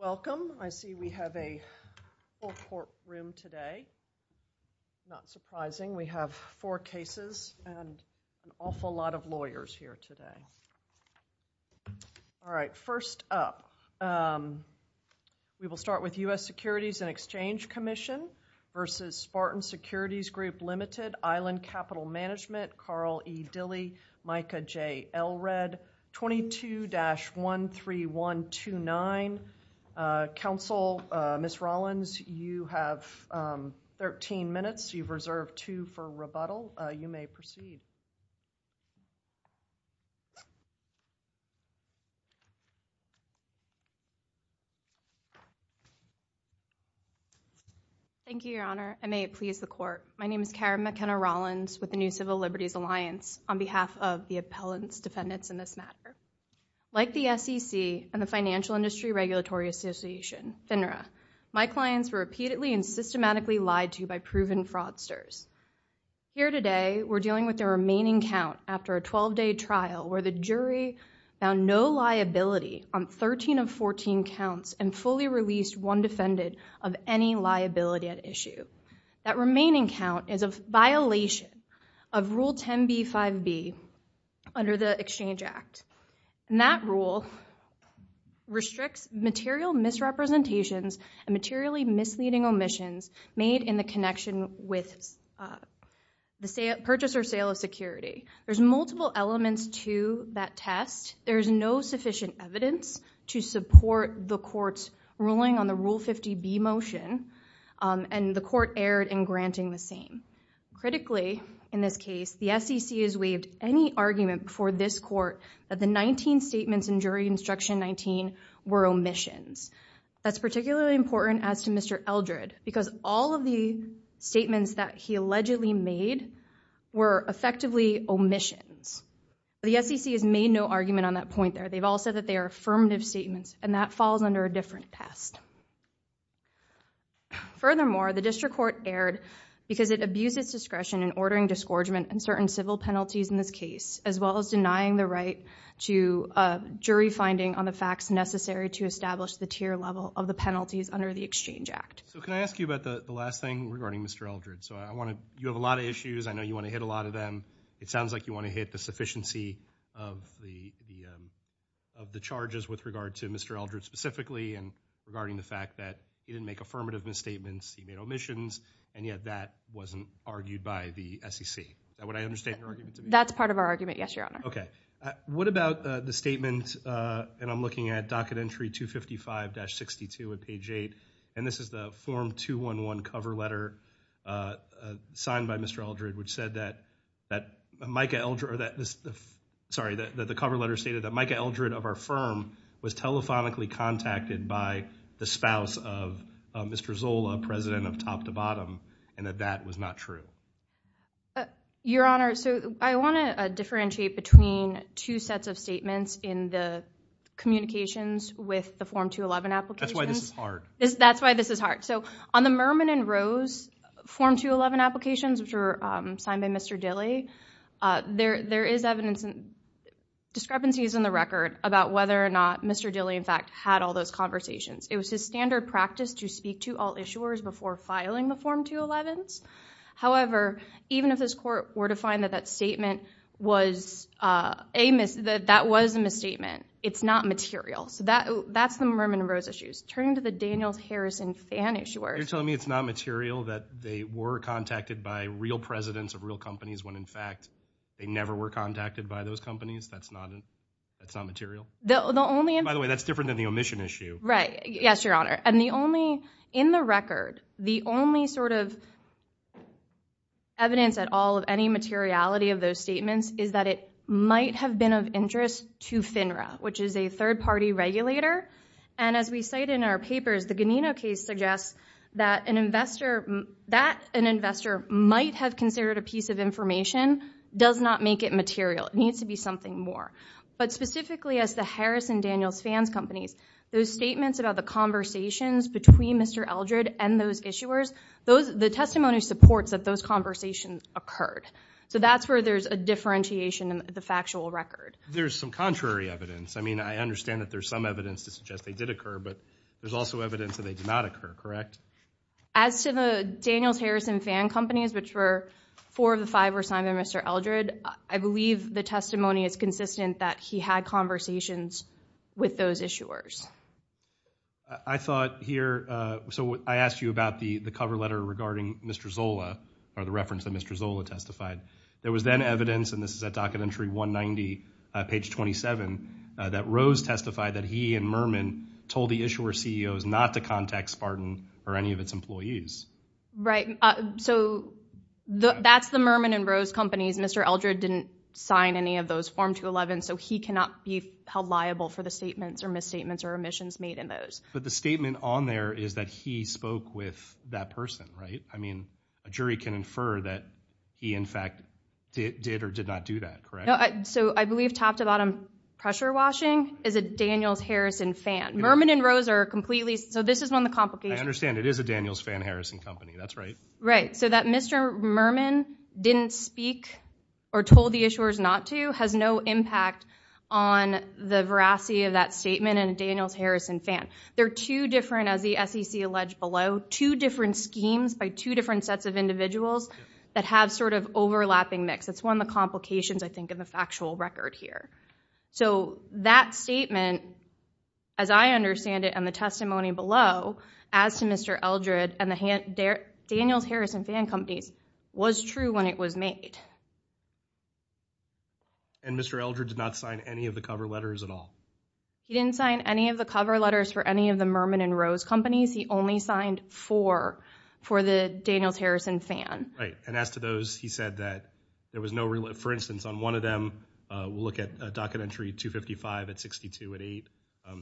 Welcome. I see we have a full courtroom today. Not surprising. We have four cases and an awful lot of lawyers here today. All right, first up, we will start with U.S. Securities and Exchange Commission v. Spartan Securities Group, Ltd., Island Capital Management, Carl E. Dilley, Micah J. Elred, 22-13129. Counsel, Ms. Rollins, you have 13 minutes. You've reserved two for rebuttal. You may proceed. Thank you, Your Honor. I may it please the Court. My name is Karen McKenna Rollins with the New Civil Liberties Alliance on behalf of the appellants, defendants in this matter. Like the SEC and the Financial Industry Regulatory Association, FINRA, my clients were repeatedly and systematically lied to by proven fraudsters. Here today, we're dealing with the remaining count after a 12-day trial where the jury found no liability on 13 of 14 counts and fully released one defendant of any liability at issue. That remaining count is a violation of Rule 10b-5b under the Exchange Act. That rule restricts material misrepresentations and materially misleading omissions made in the connection with the purchase or sale of security. There's multiple elements to that test. There's no sufficient evidence to support the court's ruling on the Rule 50b motion, and the court erred in granting the same. Critically, in this case, the SEC has waived any argument before this court that the 19 statements in Jury Instruction 19 were omissions. That's particularly important as to Mr. Eldred, because all of the statements that he allegedly made were effectively omissions. The SEC has made no argument on that point there. They've all said that they are affirmative statements, and that falls under a different test. Furthermore, the District Court erred because it abused its discretion in ordering disgorgement and certain civil penalties in this case, as well as denying the right to jury finding on the facts necessary to establish the tier level of the penalties under the Exchange Act. Can I ask you about the last thing regarding Mr. Eldred? You have a lot of issues. I know you want to hit a lot of them. It sounds like you want to hit the sufficiency of the charges with regard to Mr. Eldred specifically, and regarding the fact that he didn't make affirmative misstatements, he made omissions, and yet that wasn't argued by the SEC. Would I understand your argument? That's part of our argument, yes, Your Honor. Okay. What about the statement, and I'm looking at Docket Entry 255-62 at page 8, and this is the Form 211 cover letter signed by Mr. Eldred, which said that the cover letter stated that Micah Eldred of our firm was telephonically contacted by the spouse of Mr. Zola, President of Top to Bottom, and that that was not true. Your Honor, so I want to differentiate between two sets of statements in the communications with the Form 211 applications. That's why this is hard. That's why this is hard. So on the Mermin and Rose Form 211 applications, which were signed by Mr. Dilley, there is evidence and discrepancies in the record about whether or not Mr. Dilley, in fact, had all those conversations. It was his standard practice to speak to all issuers before filing the Form 211s. However, even if this court were to find that that statement was a mis- that that was a misstatement, it's not material. So that's the Mermin and Rose issues. Turning to the Daniels-Harrison fan issuers- You're telling me it's not material that they were contacted by real presidents of real companies when, in fact, they never were contacted by those companies? That's not material? The only- By the way, that's different than the omission issue. Right. Yes, Your Honor. And the only- In the record, the only sort of evidence at all of any materiality of those statements is that it might have been of interest to FINRA, which is a third-party regulator. And as we cite in our papers, the Ganino case suggests that an investor- that an investor might have considered a piece of information does not make it material. It needs to be something more. But specifically as the Harrison-Daniels fans companies, those statements about the conversations between Mr. Eldred and those issuers, the testimony supports that those conversations occurred. So that's where there's a differentiation in the factual record. There's some contrary evidence. I mean, I understand that there's some evidence to suggest they did occur, but there's also evidence that they did not occur, correct? As to the Daniels-Harrison fan companies, which were four of the five were signed by Mr. Eldred, I believe the testimony is consistent that he had conversations with those issuers. I thought here-so I asked you about the cover letter regarding Mr. Zola or the reference that Mr. Zola testified. There was then evidence, and this is at Documentary 190, page 27, that Rose testified that he and Merman told the issuer CEOs not to contact Spartan or any of its employees. Right. So that's the Merman and Rose companies. Mr. Eldred didn't sign any of those Form 211, so he cannot be held liable for the statements or misstatements or omissions made in those. But the statement on there is that he spoke with that person, right? I mean, a jury can infer that he, in fact, did or did not do that, correct? So I believe top to bottom pressure washing is a Daniels-Harrison fan. Merman and Rose are completely-so this is one of the complications. I understand it is a Daniels-Fan Harrison company. That's right. Right, so that Mr. Merman didn't speak or told the issuers not to has no impact on the veracity of that statement and a Daniels-Harrison fan. They're two different, as the SEC alleged below, two different schemes by two different sets of individuals that have sort of overlapping mix. It's one of the complications, I think, in the factual record here. So that statement, as I understand it and the testimony below, as to Mr. Eldred and the Daniels-Harrison fan companies was true when it was made. And Mr. Eldred did not sign any of the cover letters at all? He didn't sign any of the cover letters for any of the Merman and Rose companies. He only signed four for the Daniels-Harrison fan. Right, and as to those, he said that there was no-for instance, on one of them, we'll look at docket entry 255 at 62 at 8,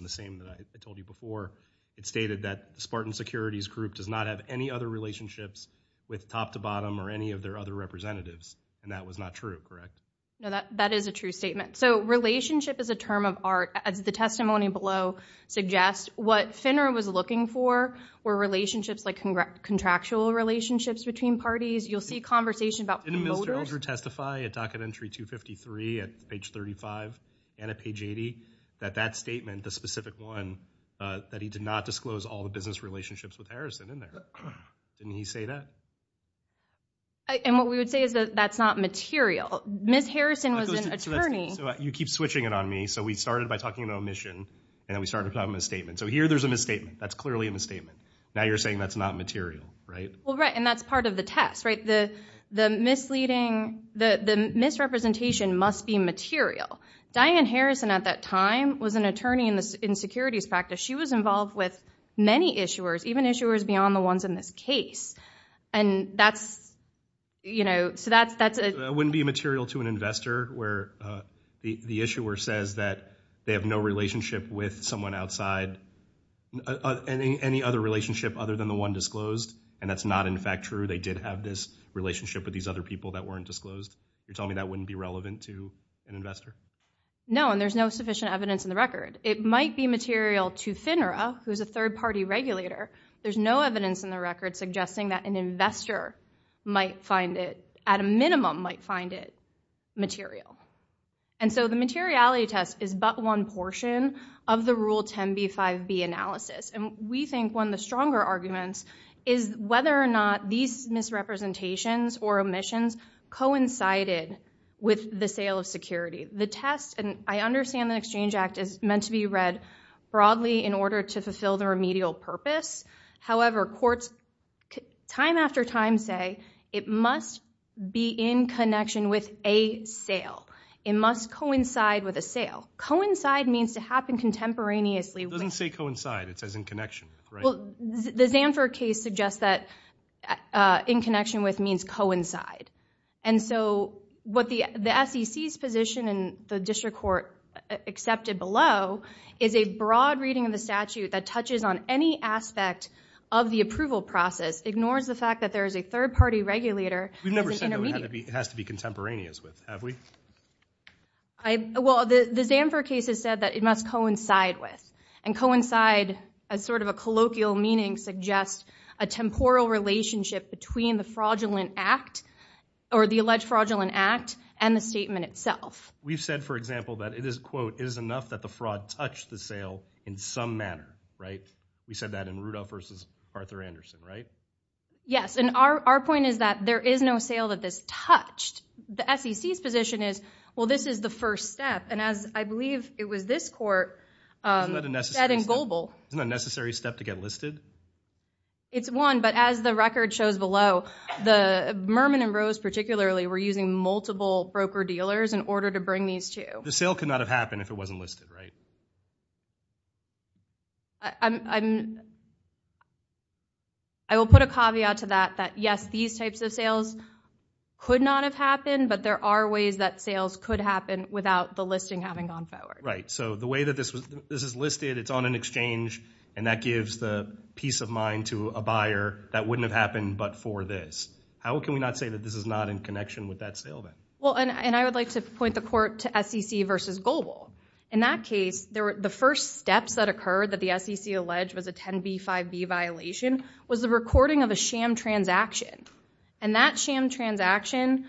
the same that I told you before, it stated that Spartan Securities Group does not have any other relationships with top to bottom or any of their other representatives, and that was not true, correct? No, that is a true statement. So relationship is a term of art. As the testimony below suggests, what FINRA was looking for were relationships, like contractual relationships between parties. You'll see conversation about promoters. Did Mr. Eldred testify at docket entry 253 at page 35 and at page 80 that that statement, the specific one, that he did not disclose all the business relationships with Harrison in there? Didn't he say that? And what we would say is that that's not material. Ms. Harrison was an attorney. So you keep switching it on me. So we started by talking about omission, and then we started talking about a misstatement. So here there's a misstatement. That's clearly a misstatement. Now you're saying that's not material, right? Well, right, and that's part of the test, right? The misleading, the misrepresentation must be material. Diane Harrison at that time was an attorney in securities practice. She was involved with many issuers, even issuers beyond the ones in this case. And that's, you know, so that's a... It wouldn't be material to an investor where the issuer says that they have no relationship with someone outside any other relationship other than the one disclosed, and that's not, in fact, true. They did have this relationship with these other people that weren't disclosed. You're telling me that wouldn't be relevant to an investor? No, and there's no sufficient evidence in the record. It might be material to FINRA, who's a third-party regulator. There's no evidence in the record suggesting that an investor might find it, at a minimum, might find it material. And so the materiality test is but one portion of the Rule 10b-5b analysis. And we think one of the stronger arguments is whether or not these misrepresentations or omissions coincided with the sale of security. The test, and I understand the Exchange Act is meant to be read broadly in order to fulfill the remedial purpose. However, courts time after time say it must be in connection with a sale. It must coincide with a sale. Coincide means to happen contemporaneously. It doesn't say coincide. It says in connection, right? Well, the Zanfer case suggests that in connection with means coincide. And so what the SEC's position and the district court accepted below is a broad reading of the statute that touches on any aspect of the approval process, ignores the fact that there is a third-party regulator as an intermediate. We've never said that it has to be contemporaneous with, have we? Well, the Zanfer case has said that it must coincide with and coincide as sort of a colloquial meaning suggests a temporal relationship between the fraudulent act or the alleged fraudulent act and the statement itself. We've said, for example, that it is, quote, it is enough that the fraud touched the sale in some manner, right? We said that in Rudolph v. Arthur Anderson, right? Yes, and our point is that there is no sale that this touched. The SEC's position is, well, this is the first step, and as I believe it was this court said in Goebel. Isn't that a necessary step to get listed? It's one, but as the record shows below, Mermin and Rose particularly were using multiple broker-dealers in order to bring these two. The sale could not have happened if it wasn't listed, right? I will put a caveat to that that, yes, these types of sales could not have happened, but there are ways that sales could happen without the listing having gone forward. Right, so the way that this is listed, it's on an exchange, and that gives the peace of mind to a buyer that wouldn't have happened but for this. How can we not say that this is not in connection with that sale then? Well, and I would like to point the court to SEC v. Goebel. In that case, the first steps that occurred that the SEC alleged was a 10b-5b violation was the recording of a sham transaction, and that sham transaction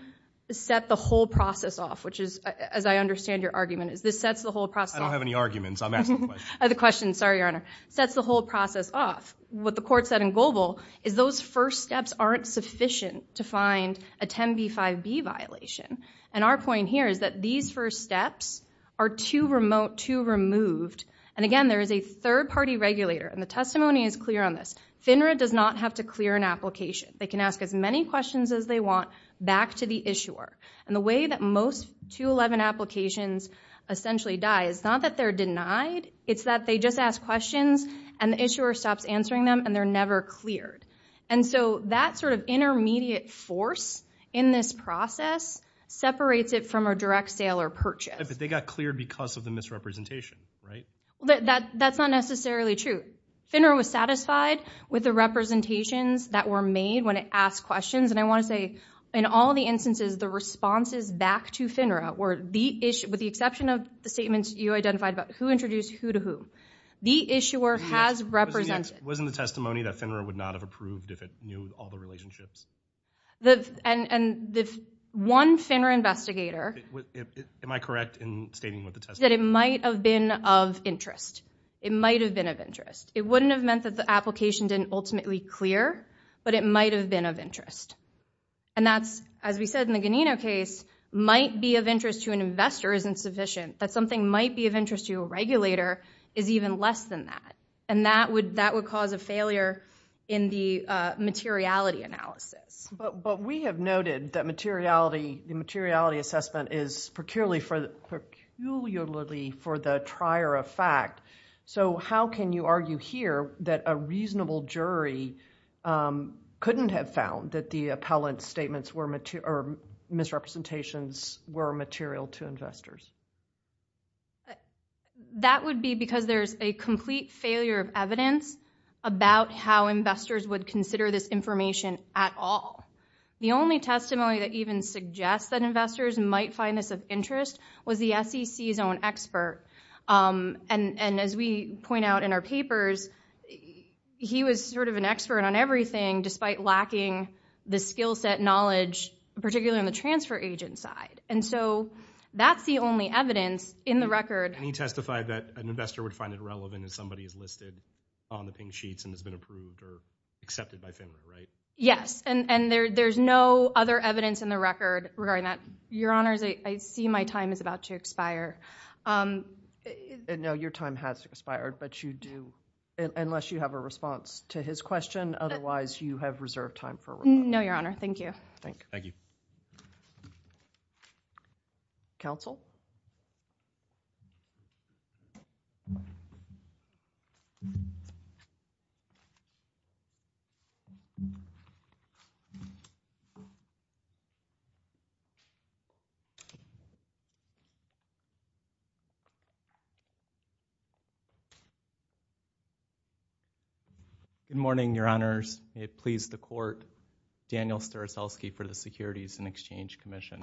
set the whole process off, which is, as I understand your argument, this sets the whole process off. I don't have any arguments. I'm asking the question. The question, sorry, Your Honor, sets the whole process off. What the court said in Goebel is those first steps aren't sufficient to find a 10b-5b violation, and our point here is that these first steps are too remote, too removed, and again, there is a third-party regulator, and the testimony is clear on this. FINRA does not have to clear an application. They can ask as many questions as they want back to the issuer, and the way that most 211 applications essentially die is not that they're denied. It's that they just ask questions, and the issuer stops answering them, and they're never cleared, and so that sort of intermediate force in this process separates it from a direct sale or purchase. But they got cleared because of the misrepresentation, right? That's not necessarily true. FINRA was satisfied with the representations that were made when it asked questions, and I want to say in all the instances, the responses back to FINRA were the issue, with the exception of the statements you identified about who introduced who to whom. The issuer has represented. Wasn't the testimony that FINRA would not have approved if it knew all the relationships? The one FINRA investigator. Am I correct in stating what the testimony is? That it might have been of interest. It might have been of interest. It wouldn't have meant that the application didn't ultimately clear, but it might have been of interest, and that's, as we said in the Ganino case, might be of interest to an investor isn't sufficient. That something might be of interest to a regulator is even less than that, and that would cause a failure in the materiality analysis. But we have noted that the materiality assessment is peculiarly for the trier of fact, so how can you argue here that a reasonable jury couldn't have found that the appellant's statements or misrepresentations were material to investors? That would be because there's a complete failure of evidence about how investors would consider this information at all. The only testimony that even suggests that investors might find this of interest was the SEC's own expert, and as we point out in our papers, he was sort of an expert on everything, despite lacking the skill set knowledge, particularly on the transfer agent side. And so that's the only evidence in the record. And he testified that an investor would find it relevant if somebody is listed on the pink sheets and has been approved or accepted by FINRA, right? Yes, and there's no other evidence in the record regarding that. Your Honors, I see my time is about to expire. No, your time has expired, but you do, unless you have a response to his question. Otherwise, you have reserved time for rebuttal. No, Your Honor. Thank you. Thank you. Counsel? Your Honors, may it please the court, Daniel Staroselsky for the Securities and Exchange Commission.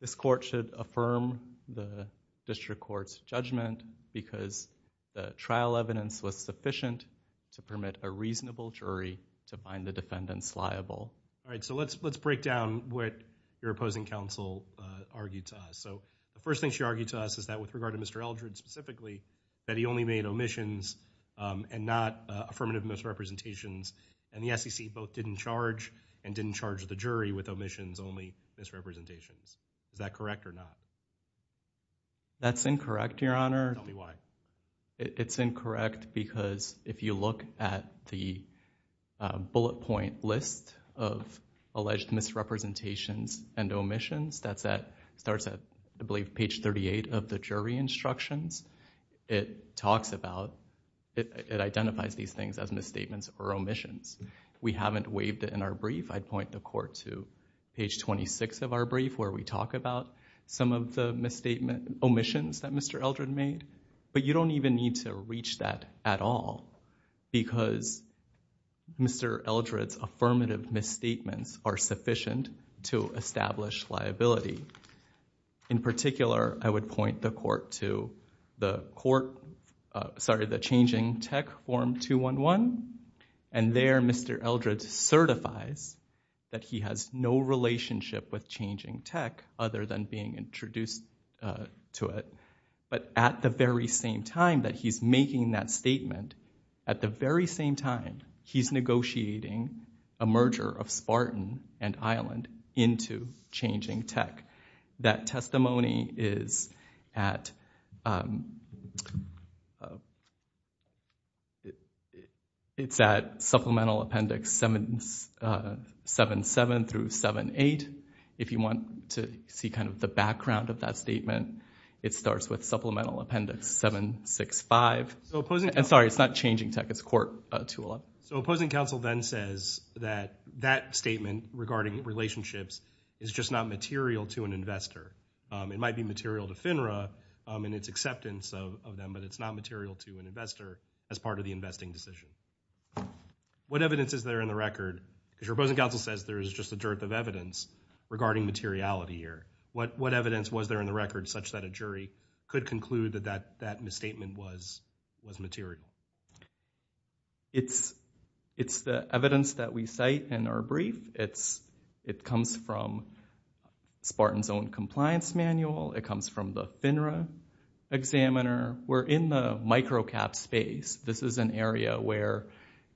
This court should affirm the district court's judgment because the trial evidence was sufficient to permit a reasonable jury to find the defendants liable. All right, so let's break down what your opposing counsel argued to us. So the first thing she argued to us is that with regard to Mr. Eldred specifically, that he only made omissions and not affirmative misrepresentations. And the SEC both didn't charge and didn't charge the jury with omissions, only misrepresentations. Is that correct or not? That's incorrect, Your Honor. Tell me why. It's incorrect because if you look at the bullet point list of alleged misrepresentations and omissions, that starts at, I believe, page 38 of the jury instructions. It talks about, it identifies these things as misstatements or omissions. We haven't waived it in our brief. I'd point the court to page 26 of our brief where we talk about some of the omissions that Mr. Eldred made. But you don't even need to reach that at all because Mr. Eldred's affirmative misstatements are sufficient to establish liability. In particular, I would point the court to the changing tech form 211, and there Mr. Eldred certifies that he has no relationship with changing tech other than being introduced to it. But at the very same time that he's making that statement, at the very same time he's negotiating a merger of Spartan and Island into changing tech. That testimony is at Supplemental Appendix 7-7 through 7-8. If you want to see the background of that statement, it starts with Supplemental Appendix 7-6-5. Sorry, it's not changing tech, it's court 211. So opposing counsel then says that that statement regarding relationships is just not material to an investor. It might be material to FINRA in its acceptance of them, but it's not material to an investor as part of the investing decision. What evidence is there in the record? Because your opposing counsel says there is just a dearth of evidence regarding materiality here. What evidence was there in the record such that a jury could conclude that that misstatement was material? It's the evidence that we cite in our brief. It comes from Spartan's own compliance manual. It comes from the FINRA examiner. We're in the micro-cap space. This is an area where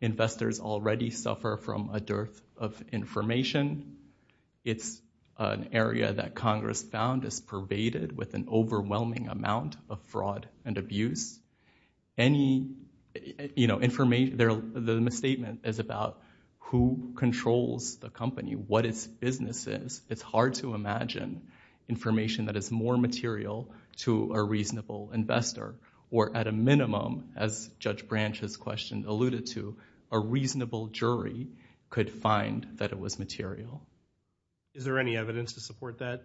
investors already suffer from a dearth of information. It's an area that Congress found is pervaded with an overwhelming amount of fraud and abuse. The misstatement is about who controls the company, what its business is. It's hard to imagine information that is more material to a reasonable investor, or at a minimum, as Judge Branch has alluded to, a reasonable jury could find that it was material. Is there any evidence to support that?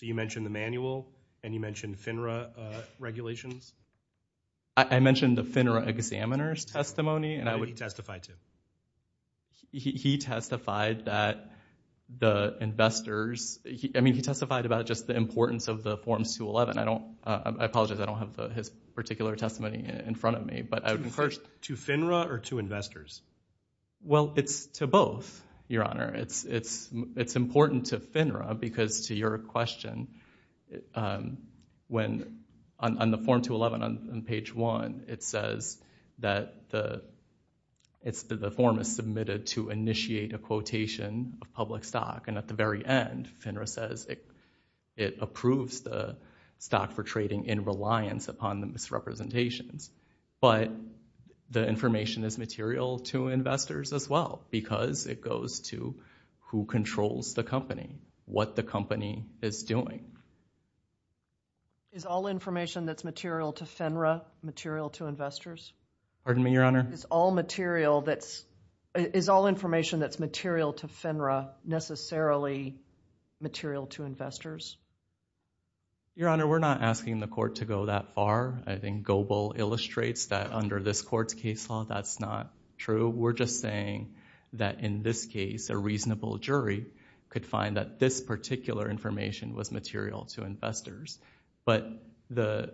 You mentioned the manual, and you mentioned FINRA regulations. I mentioned the FINRA examiner's testimony. How did he testify to it? He testified about just the importance of the Forms 211. I apologize, I don't have his particular testimony in front of me. To FINRA or to investors? Well, it's to both, Your Honor. It's important to FINRA because, to your question, on the Form 211 on page 1, it says that the form is submitted to initiate a quotation of public stock, and at the very end, FINRA says it approves the stock for trading in reliance upon the misrepresentations. But the information is material to investors as well because it goes to who controls the company, what the company is doing. Is all information that's material to FINRA material to investors? Pardon me, Your Honor? Is all information that's material to FINRA necessarily material to investors? Your Honor, we're not asking the court to go that far. I think Goebel illustrates that under this court's case law, that's not true. We're just saying that in this case, a reasonable jury could find that this particular information was material to investors. But the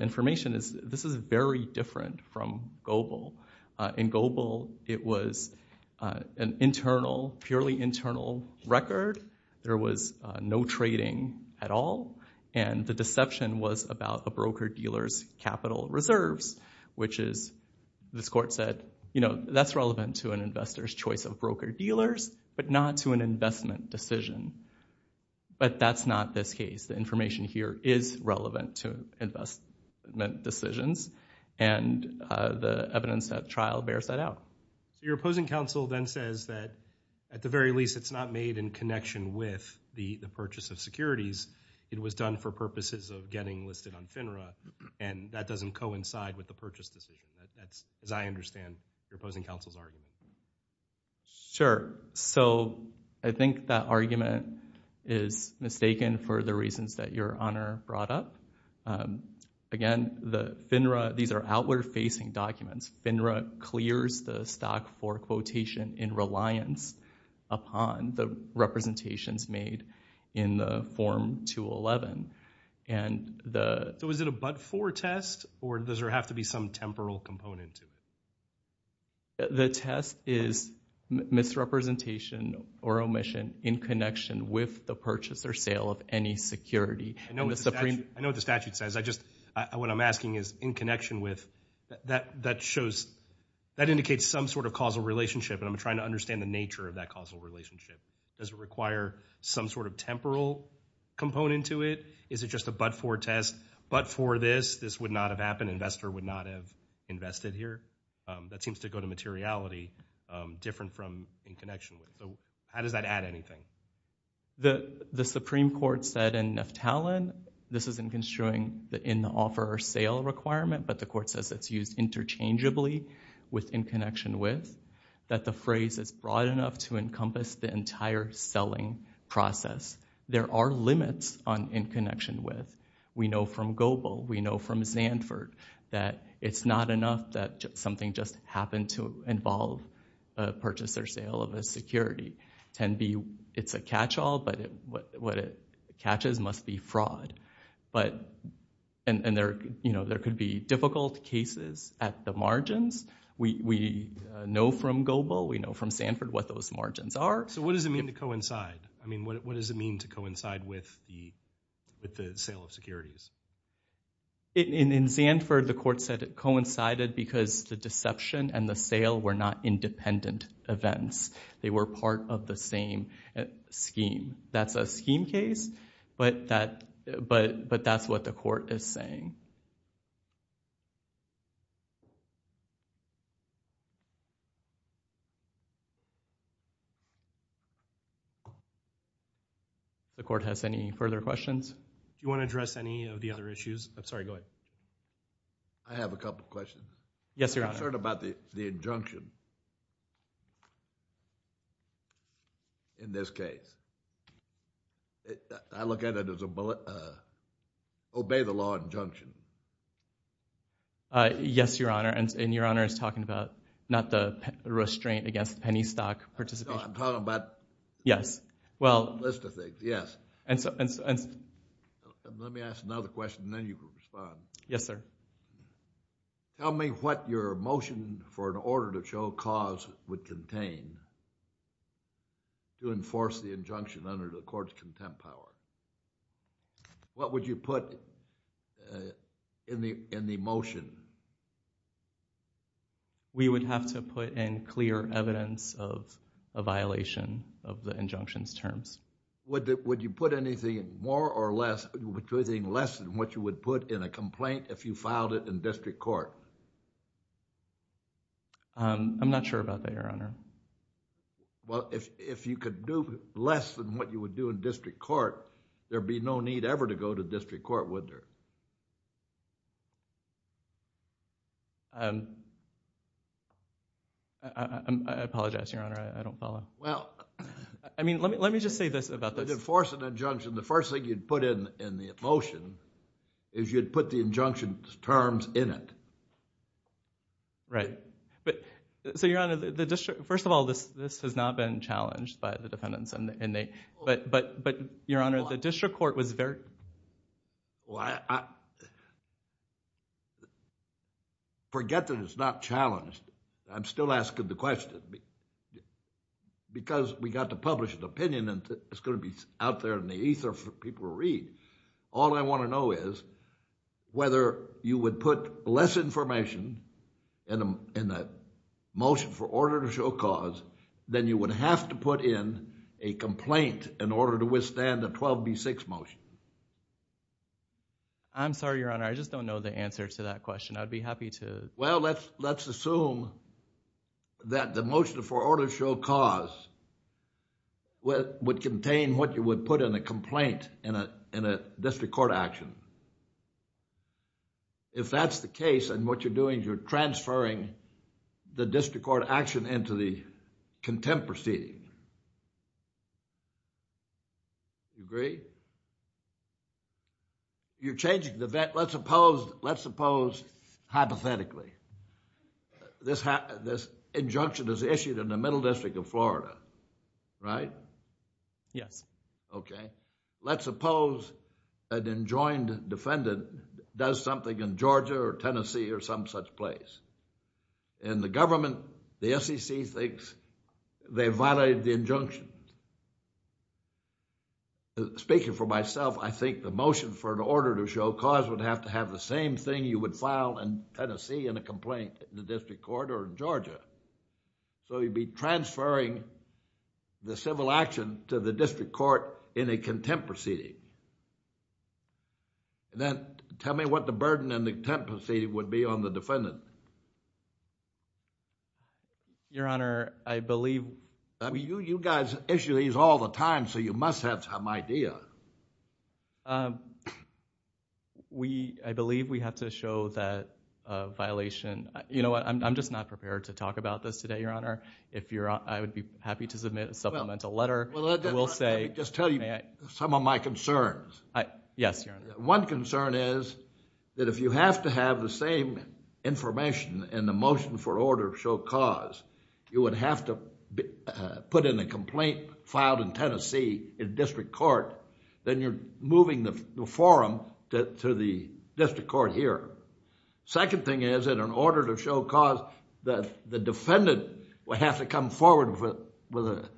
information is, this is very different from Goebel. In Goebel, it was an internal, purely internal record. There was no trading at all, and the deception was about the broker-dealer's capital reserves, which is, this court said, you know, that's relevant to an investor's choice of broker-dealers, but not to an investment decision. But that's not this case. The information here is relevant to investment decisions, and the evidence at trial bears that out. Your opposing counsel then says that, at the very least, it's not made in connection with the purchase of securities. It was done for purposes of getting listed on FINRA, and that doesn't coincide with the purchase decision. That's, as I understand, your opposing counsel's argument. Sure. So I think that argument is mistaken for the reasons that Your Honor brought up. Again, the FINRA, these are outward-facing documents. FINRA clears the stock for quotation in reliance upon the representations made in the Form 211. So is it a but-for test, or does there have to be some temporal component to it? The test is misrepresentation or omission in connection with the purchase or sale of any security. I know what the statute says. I just, what I'm asking is, in connection with, that shows, that indicates some sort of causal relationship, and I'm trying to understand the nature of that causal relationship. Does it require some sort of temporal component to it? Is it just a but-for test? But-for this, this would not have happened. Investor would not have invested here. That seems to go to materiality, different from in connection with. How does that add anything? The Supreme Court said in Neftalen, this isn't construing the in-offer or sale requirement, but the court says it's used interchangeably with in connection with, that the phrase is broad enough to encompass the entire selling process. There are limits on in connection with. We know from Gobel, we know from Zandford, that it's not enough that something just happened to involve a purchase or sale of a security. It's a catch-all, but what it catches must be fraud. And there could be difficult cases at the margins. We know from Gobel, we know from Zandford what those margins are. So what does it mean to coincide? I mean, what does it mean to coincide with the sale of securities? In Zandford, the court said it coincided because the deception and the sale were not independent events. They were part of the same scheme. That's a scheme case, but that's what the court is saying. The court has any further questions? Do you want to address any of the other issues? I'm sorry, go ahead. I have a couple questions. Yes, Your Honor. I'm concerned about the injunction in this case. I look at it as a, obey the law injunction. Yes, Your Honor, and Your Honor is talking about not the restraint against penny stock participation. No, I'm talking about Yes, well A list of things, yes. Let me ask another question and then you can respond. Yes, sir. Tell me what your motion for an order to show cause would contain to enforce the injunction under the court's contempt power. What would you put in the motion? We would have to put in clear evidence of a violation of the injunction's terms. Would you put anything more or less, anything less than what you would put in a complaint if you filed it in district court? I'm not sure about that, Your Honor. Well, if you could do less than what you would do in district court, there'd be no need ever to go to district court, would there? I apologize, Your Honor. I don't follow. Well I mean, let me just say this about this. To enforce an injunction, the first thing you'd put in the motion is you'd put the injunction's terms in it. Right. So, Your Honor, first of all, this has not been challenged by the defendants but, Your Honor, the district court was very... Well, forget that it's not challenged. I'm still asking the question because we got to publish an opinion and it's going to be out there in the ether for people to read. All I want to know is whether you would put less information in the motion for order to show cause than you would have to put in a complaint in order to withstand a 12B6 motion. I'm sorry, Your Honor. I just don't know the answer to that question. I'd be happy to... Well, let's assume that the motion for order to show cause would contain what you would put in a complaint in a district court action. If that's the case, then what you're doing is you're transferring the district court action into the contempt proceeding. Do you agree? You're changing the... let's suppose hypothetically, this injunction is issued in the Middle District of Florida, right? Yes. Okay. Let's suppose an enjoined defendant does something in Georgia or Tennessee or some such place, and the government, the SEC, thinks they violated the injunction. Speaking for myself, I think the motion for an order to show cause would have to have the same thing you would file in Tennessee in a complaint in the district court or in Georgia. So you'd be transferring the civil action to the district court in a contempt proceeding. Then tell me what the burden in the contempt proceeding would be on the defendant. Your Honor, I believe... You guys issue these all the time, so you must have some idea. I believe we have to show that violation. You know what, I'm just not prepared to talk about this today, Your Honor. Let me just tell you some of my concerns. Yes, Your Honor. One concern is that if you have to have the same information in the motion for order to show cause, you would have to put in a complaint filed in Tennessee in district court, then you're moving the forum to the district court here. Second thing is that in order to show cause, the defendant would have to come forward with an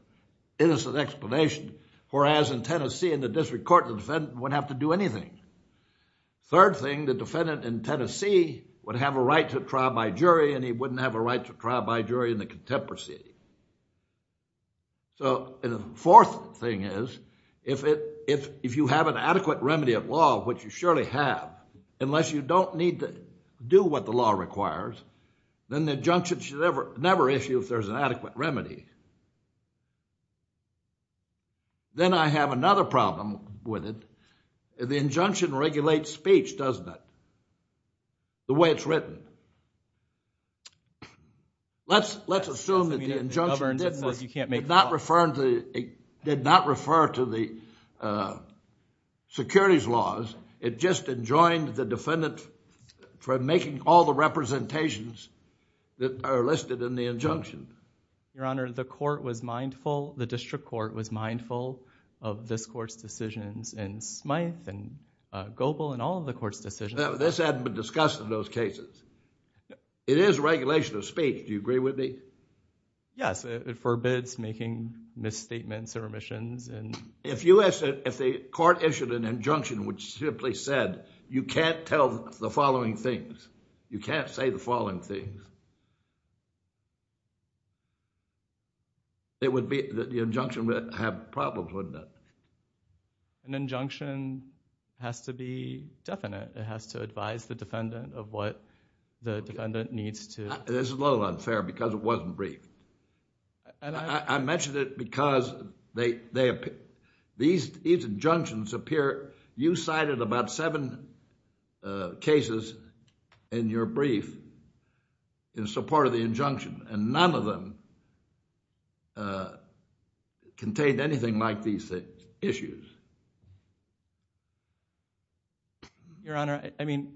innocent explanation, whereas in Tennessee in the district court, the defendant wouldn't have to do anything. Third thing, the defendant in Tennessee would have a right to trial by jury and he wouldn't have a right to trial by jury in the contempt proceeding. So the fourth thing is if you have an adequate remedy of law, which you surely have, unless you don't need to do what the law requires, then the injunction should never issue if there's an adequate remedy. Then I have another problem with it. The injunction regulates speech, doesn't it? The way it's written. Let's assume that the injunction did not refer to the securities laws. It just enjoined the defendant from making all the representations that are listed in the injunction. Your Honor, the district court was mindful of this court's decisions and Smyth and Goebel and all of the court's decisions. This hadn't been discussed in those cases. It is regulation of speech. Do you agree with me? Yes. It forbids making misstatements or omissions. If the court issued an injunction which simply said, you can't tell the following things, you can't say the following things, the injunction would have problems, wouldn't it? An injunction has to be definite. It has to advise the defendant of what the defendant needs to. This is a little unfair because it wasn't brief. I mentioned it because these injunctions appear. You cited about seven cases in your brief in support of the injunction and none of them contained anything like these issues. Your Honor, I mean,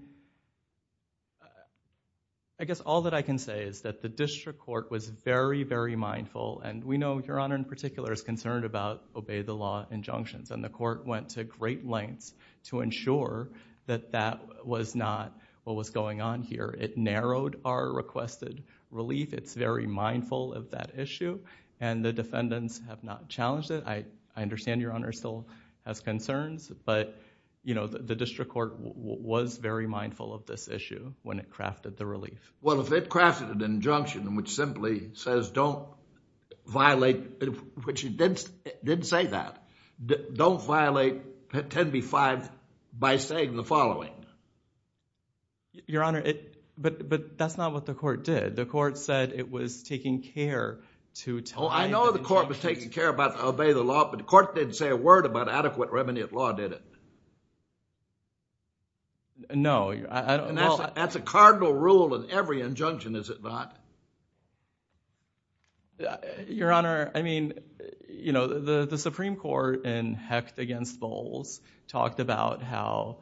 I guess all that I can say is that the district court was very, very mindful and we know Your Honor in particular is concerned about obey the law injunctions and the court went to great lengths to ensure that that was not what was going on here. It narrowed our requested relief. It's very mindful of that issue and the defendants have not challenged it. I understand Your Honor still has concerns but the district court was very mindful of this issue when it crafted the relief. Well, if it crafted an injunction which simply says don't violate, which it didn't say that, don't violate 10b-5 by saying the following. Your Honor, but that's not what the court did. The court said it was taking care to time the injunction. Oh, I know the court was taking care about obey the law but the court didn't say a word about adequate remediate law, did it? No. That's a cardinal rule in every injunction, is it not? Your Honor, I mean, you know, the Supreme Court in Hecht against Bowles talked about how,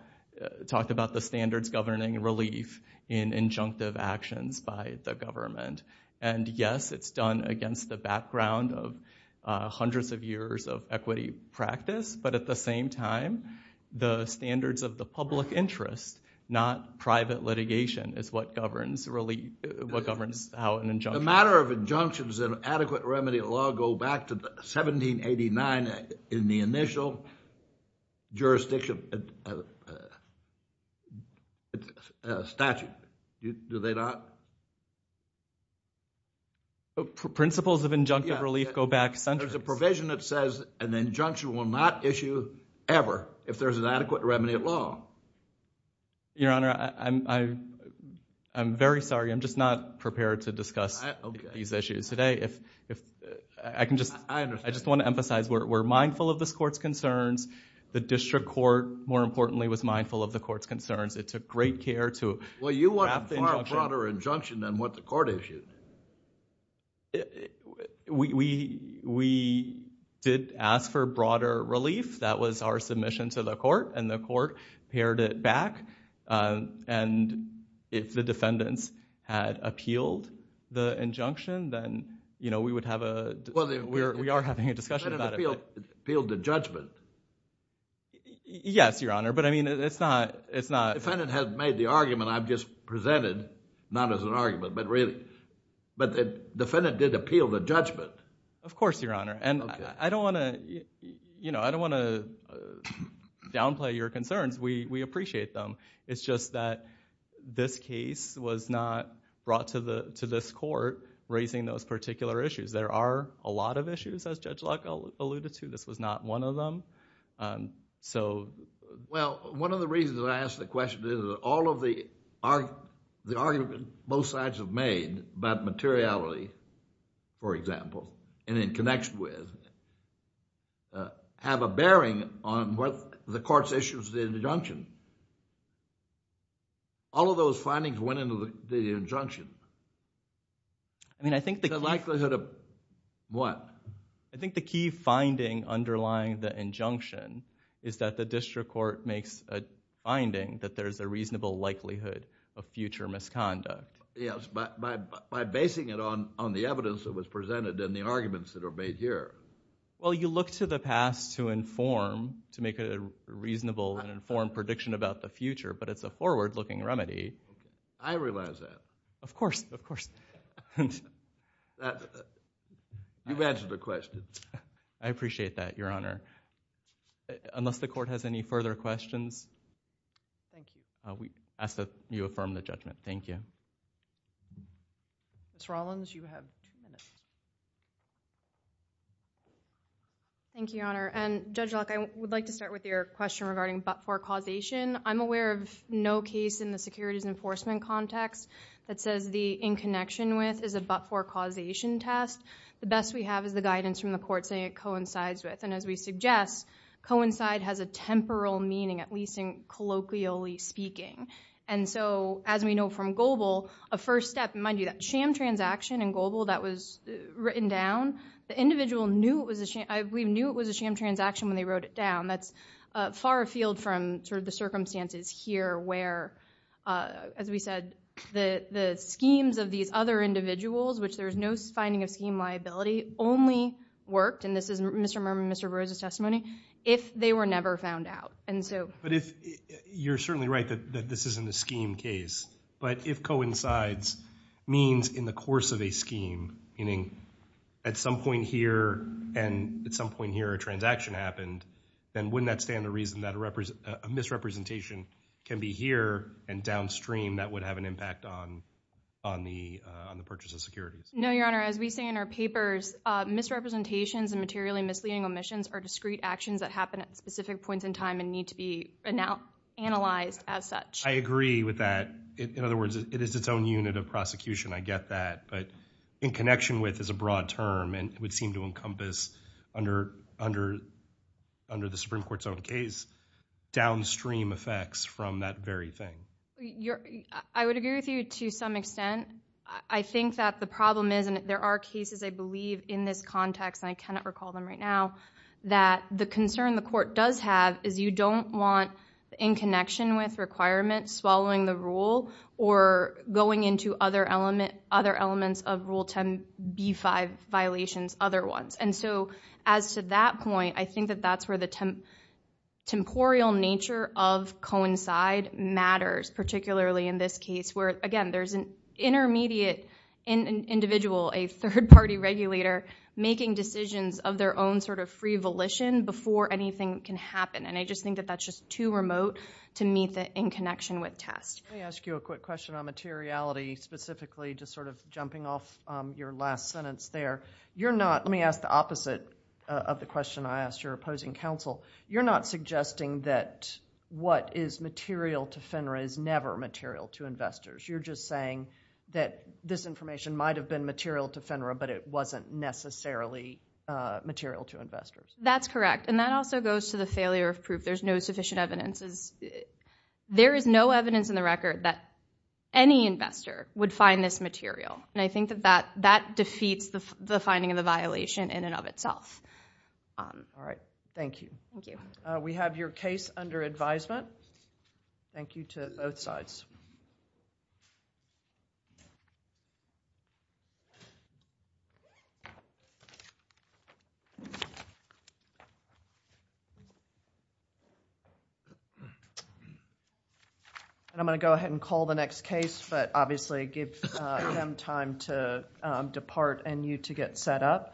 talked about the standards governing relief in injunctive actions by the government and yes, it's done against the background of hundreds of years of equity practice but at the same time, the standards of the public interest, not private litigation is what governs relief, what governs how an injunction. The matter of injunctions and adequate remedy law go back to 1789 in the initial jurisdiction statute, do they not? Principles of injunctive relief go back centuries. There's a provision that says an injunction will not issue ever if there's an adequate remediate law. Your Honor, I'm very sorry. I'm just not prepared to discuss these issues today. I just want to emphasize we're mindful of this court's concerns. The district court, more importantly, was mindful of the court's concerns. It took great care to wrap the injunction. Well, you want a far broader injunction than what the court issued. We did ask for broader relief. That was our submission to the court and the court pared it back and if the defendants had appealed the injunction, then we would have a... We are having a discussion about it. The defendant appealed the judgment. Yes, Your Honor, but I mean it's not... The defendant has made the argument I've just presented, not as an argument, but really. The defendant did appeal the judgment. Of course, Your Honor. I don't want to downplay your concerns. We appreciate them. It's just that this case was not brought to this court raising those particular issues. There are a lot of issues, as Judge Luck alluded to. This was not one of them. Well, one of the reasons that I asked the question is that all of the arguments both sides have made about materiality, for example, and in connection with, have a bearing on what the court's issues with the injunction. All of those findings went into the injunction. I mean, I think the key... The likelihood of what? I think the key finding underlying the injunction is that the district court makes a finding that there's a reasonable likelihood of future misconduct. Yes, by basing it on the evidence that was presented and the arguments that are made here. Well, you look to the past to inform, to make a reasonable and informed prediction about the future, but it's a forward-looking remedy. I realize that. Of course, of course. You've answered the question. I appreciate that, Your Honor. Unless the court has any further questions, I ask that you affirm the judgment. Thank you. Ms. Rollins, you have ten minutes. Thank you, Your Honor. Judge Luck, I would like to start with your question regarding but-for causation. I'm aware of no case in the securities enforcement context that says the in-connection-with is a but-for causation test. The best we have is the guidance from the court saying it coincides with. And as we suggest, coincide has a temporal meaning, at least colloquially speaking. And so, as we know from Goebel, a first step, mind you, that sham transaction in Goebel that was written down, the individual knew it was a sham transaction when they wrote it down. That's far afield from sort of the circumstances here where, as we said, the schemes of these other individuals, which there's no finding of scheme liability, only worked, and this is Mr. Burroughs' testimony, if they were never found out. But you're certainly right that this isn't a scheme case, but if coincides means in the course of a scheme, meaning at some point here and at some point here a transaction happened, then wouldn't that stand to reason that a misrepresentation can be here and downstream that would have an impact on the purchase of securities? No, Your Honor. As we say in our papers, misrepresentations and materially misleading omissions are discrete actions that happen at specific points in time and need to be analyzed as such. I agree with that. In other words, it is its own unit of prosecution. But in connection with is a broad term, and it would seem to encompass under the Supreme Court's own case, downstream effects from that very thing. I would agree with you to some extent. I think that the problem is, and there are cases I believe in this context, and I cannot recall them right now, that the concern the court does have is you don't want in connection with requirements swallowing the rule or going into other elements of Rule 10b-5 violations, other ones. And so as to that point, I think that that's where the temporal nature of coincide matters, particularly in this case, where, again, there's an intermediate individual, a third-party regulator, making decisions of their own sort of free volition before anything can happen. And I just think that that's just too remote to meet that in connection with test. Let me ask you a quick question on materiality, specifically just sort of jumping off your last sentence there. Let me ask the opposite of the question I asked your opposing counsel. You're not suggesting that what is material to FINRA is never material to investors. You're just saying that this information might have been material to FINRA, but it wasn't necessarily material to investors. That's correct. And that also goes to the failure of proof. There's no sufficient evidence. There is no evidence in the record that any investor would find this material. And I think that that defeats the finding of the violation in and of itself. All right. Thank you. Thank you. We have your case under advisement. Thank you to both sides. I'm going to go ahead and call the next case, but obviously give them time to depart and you to get set up.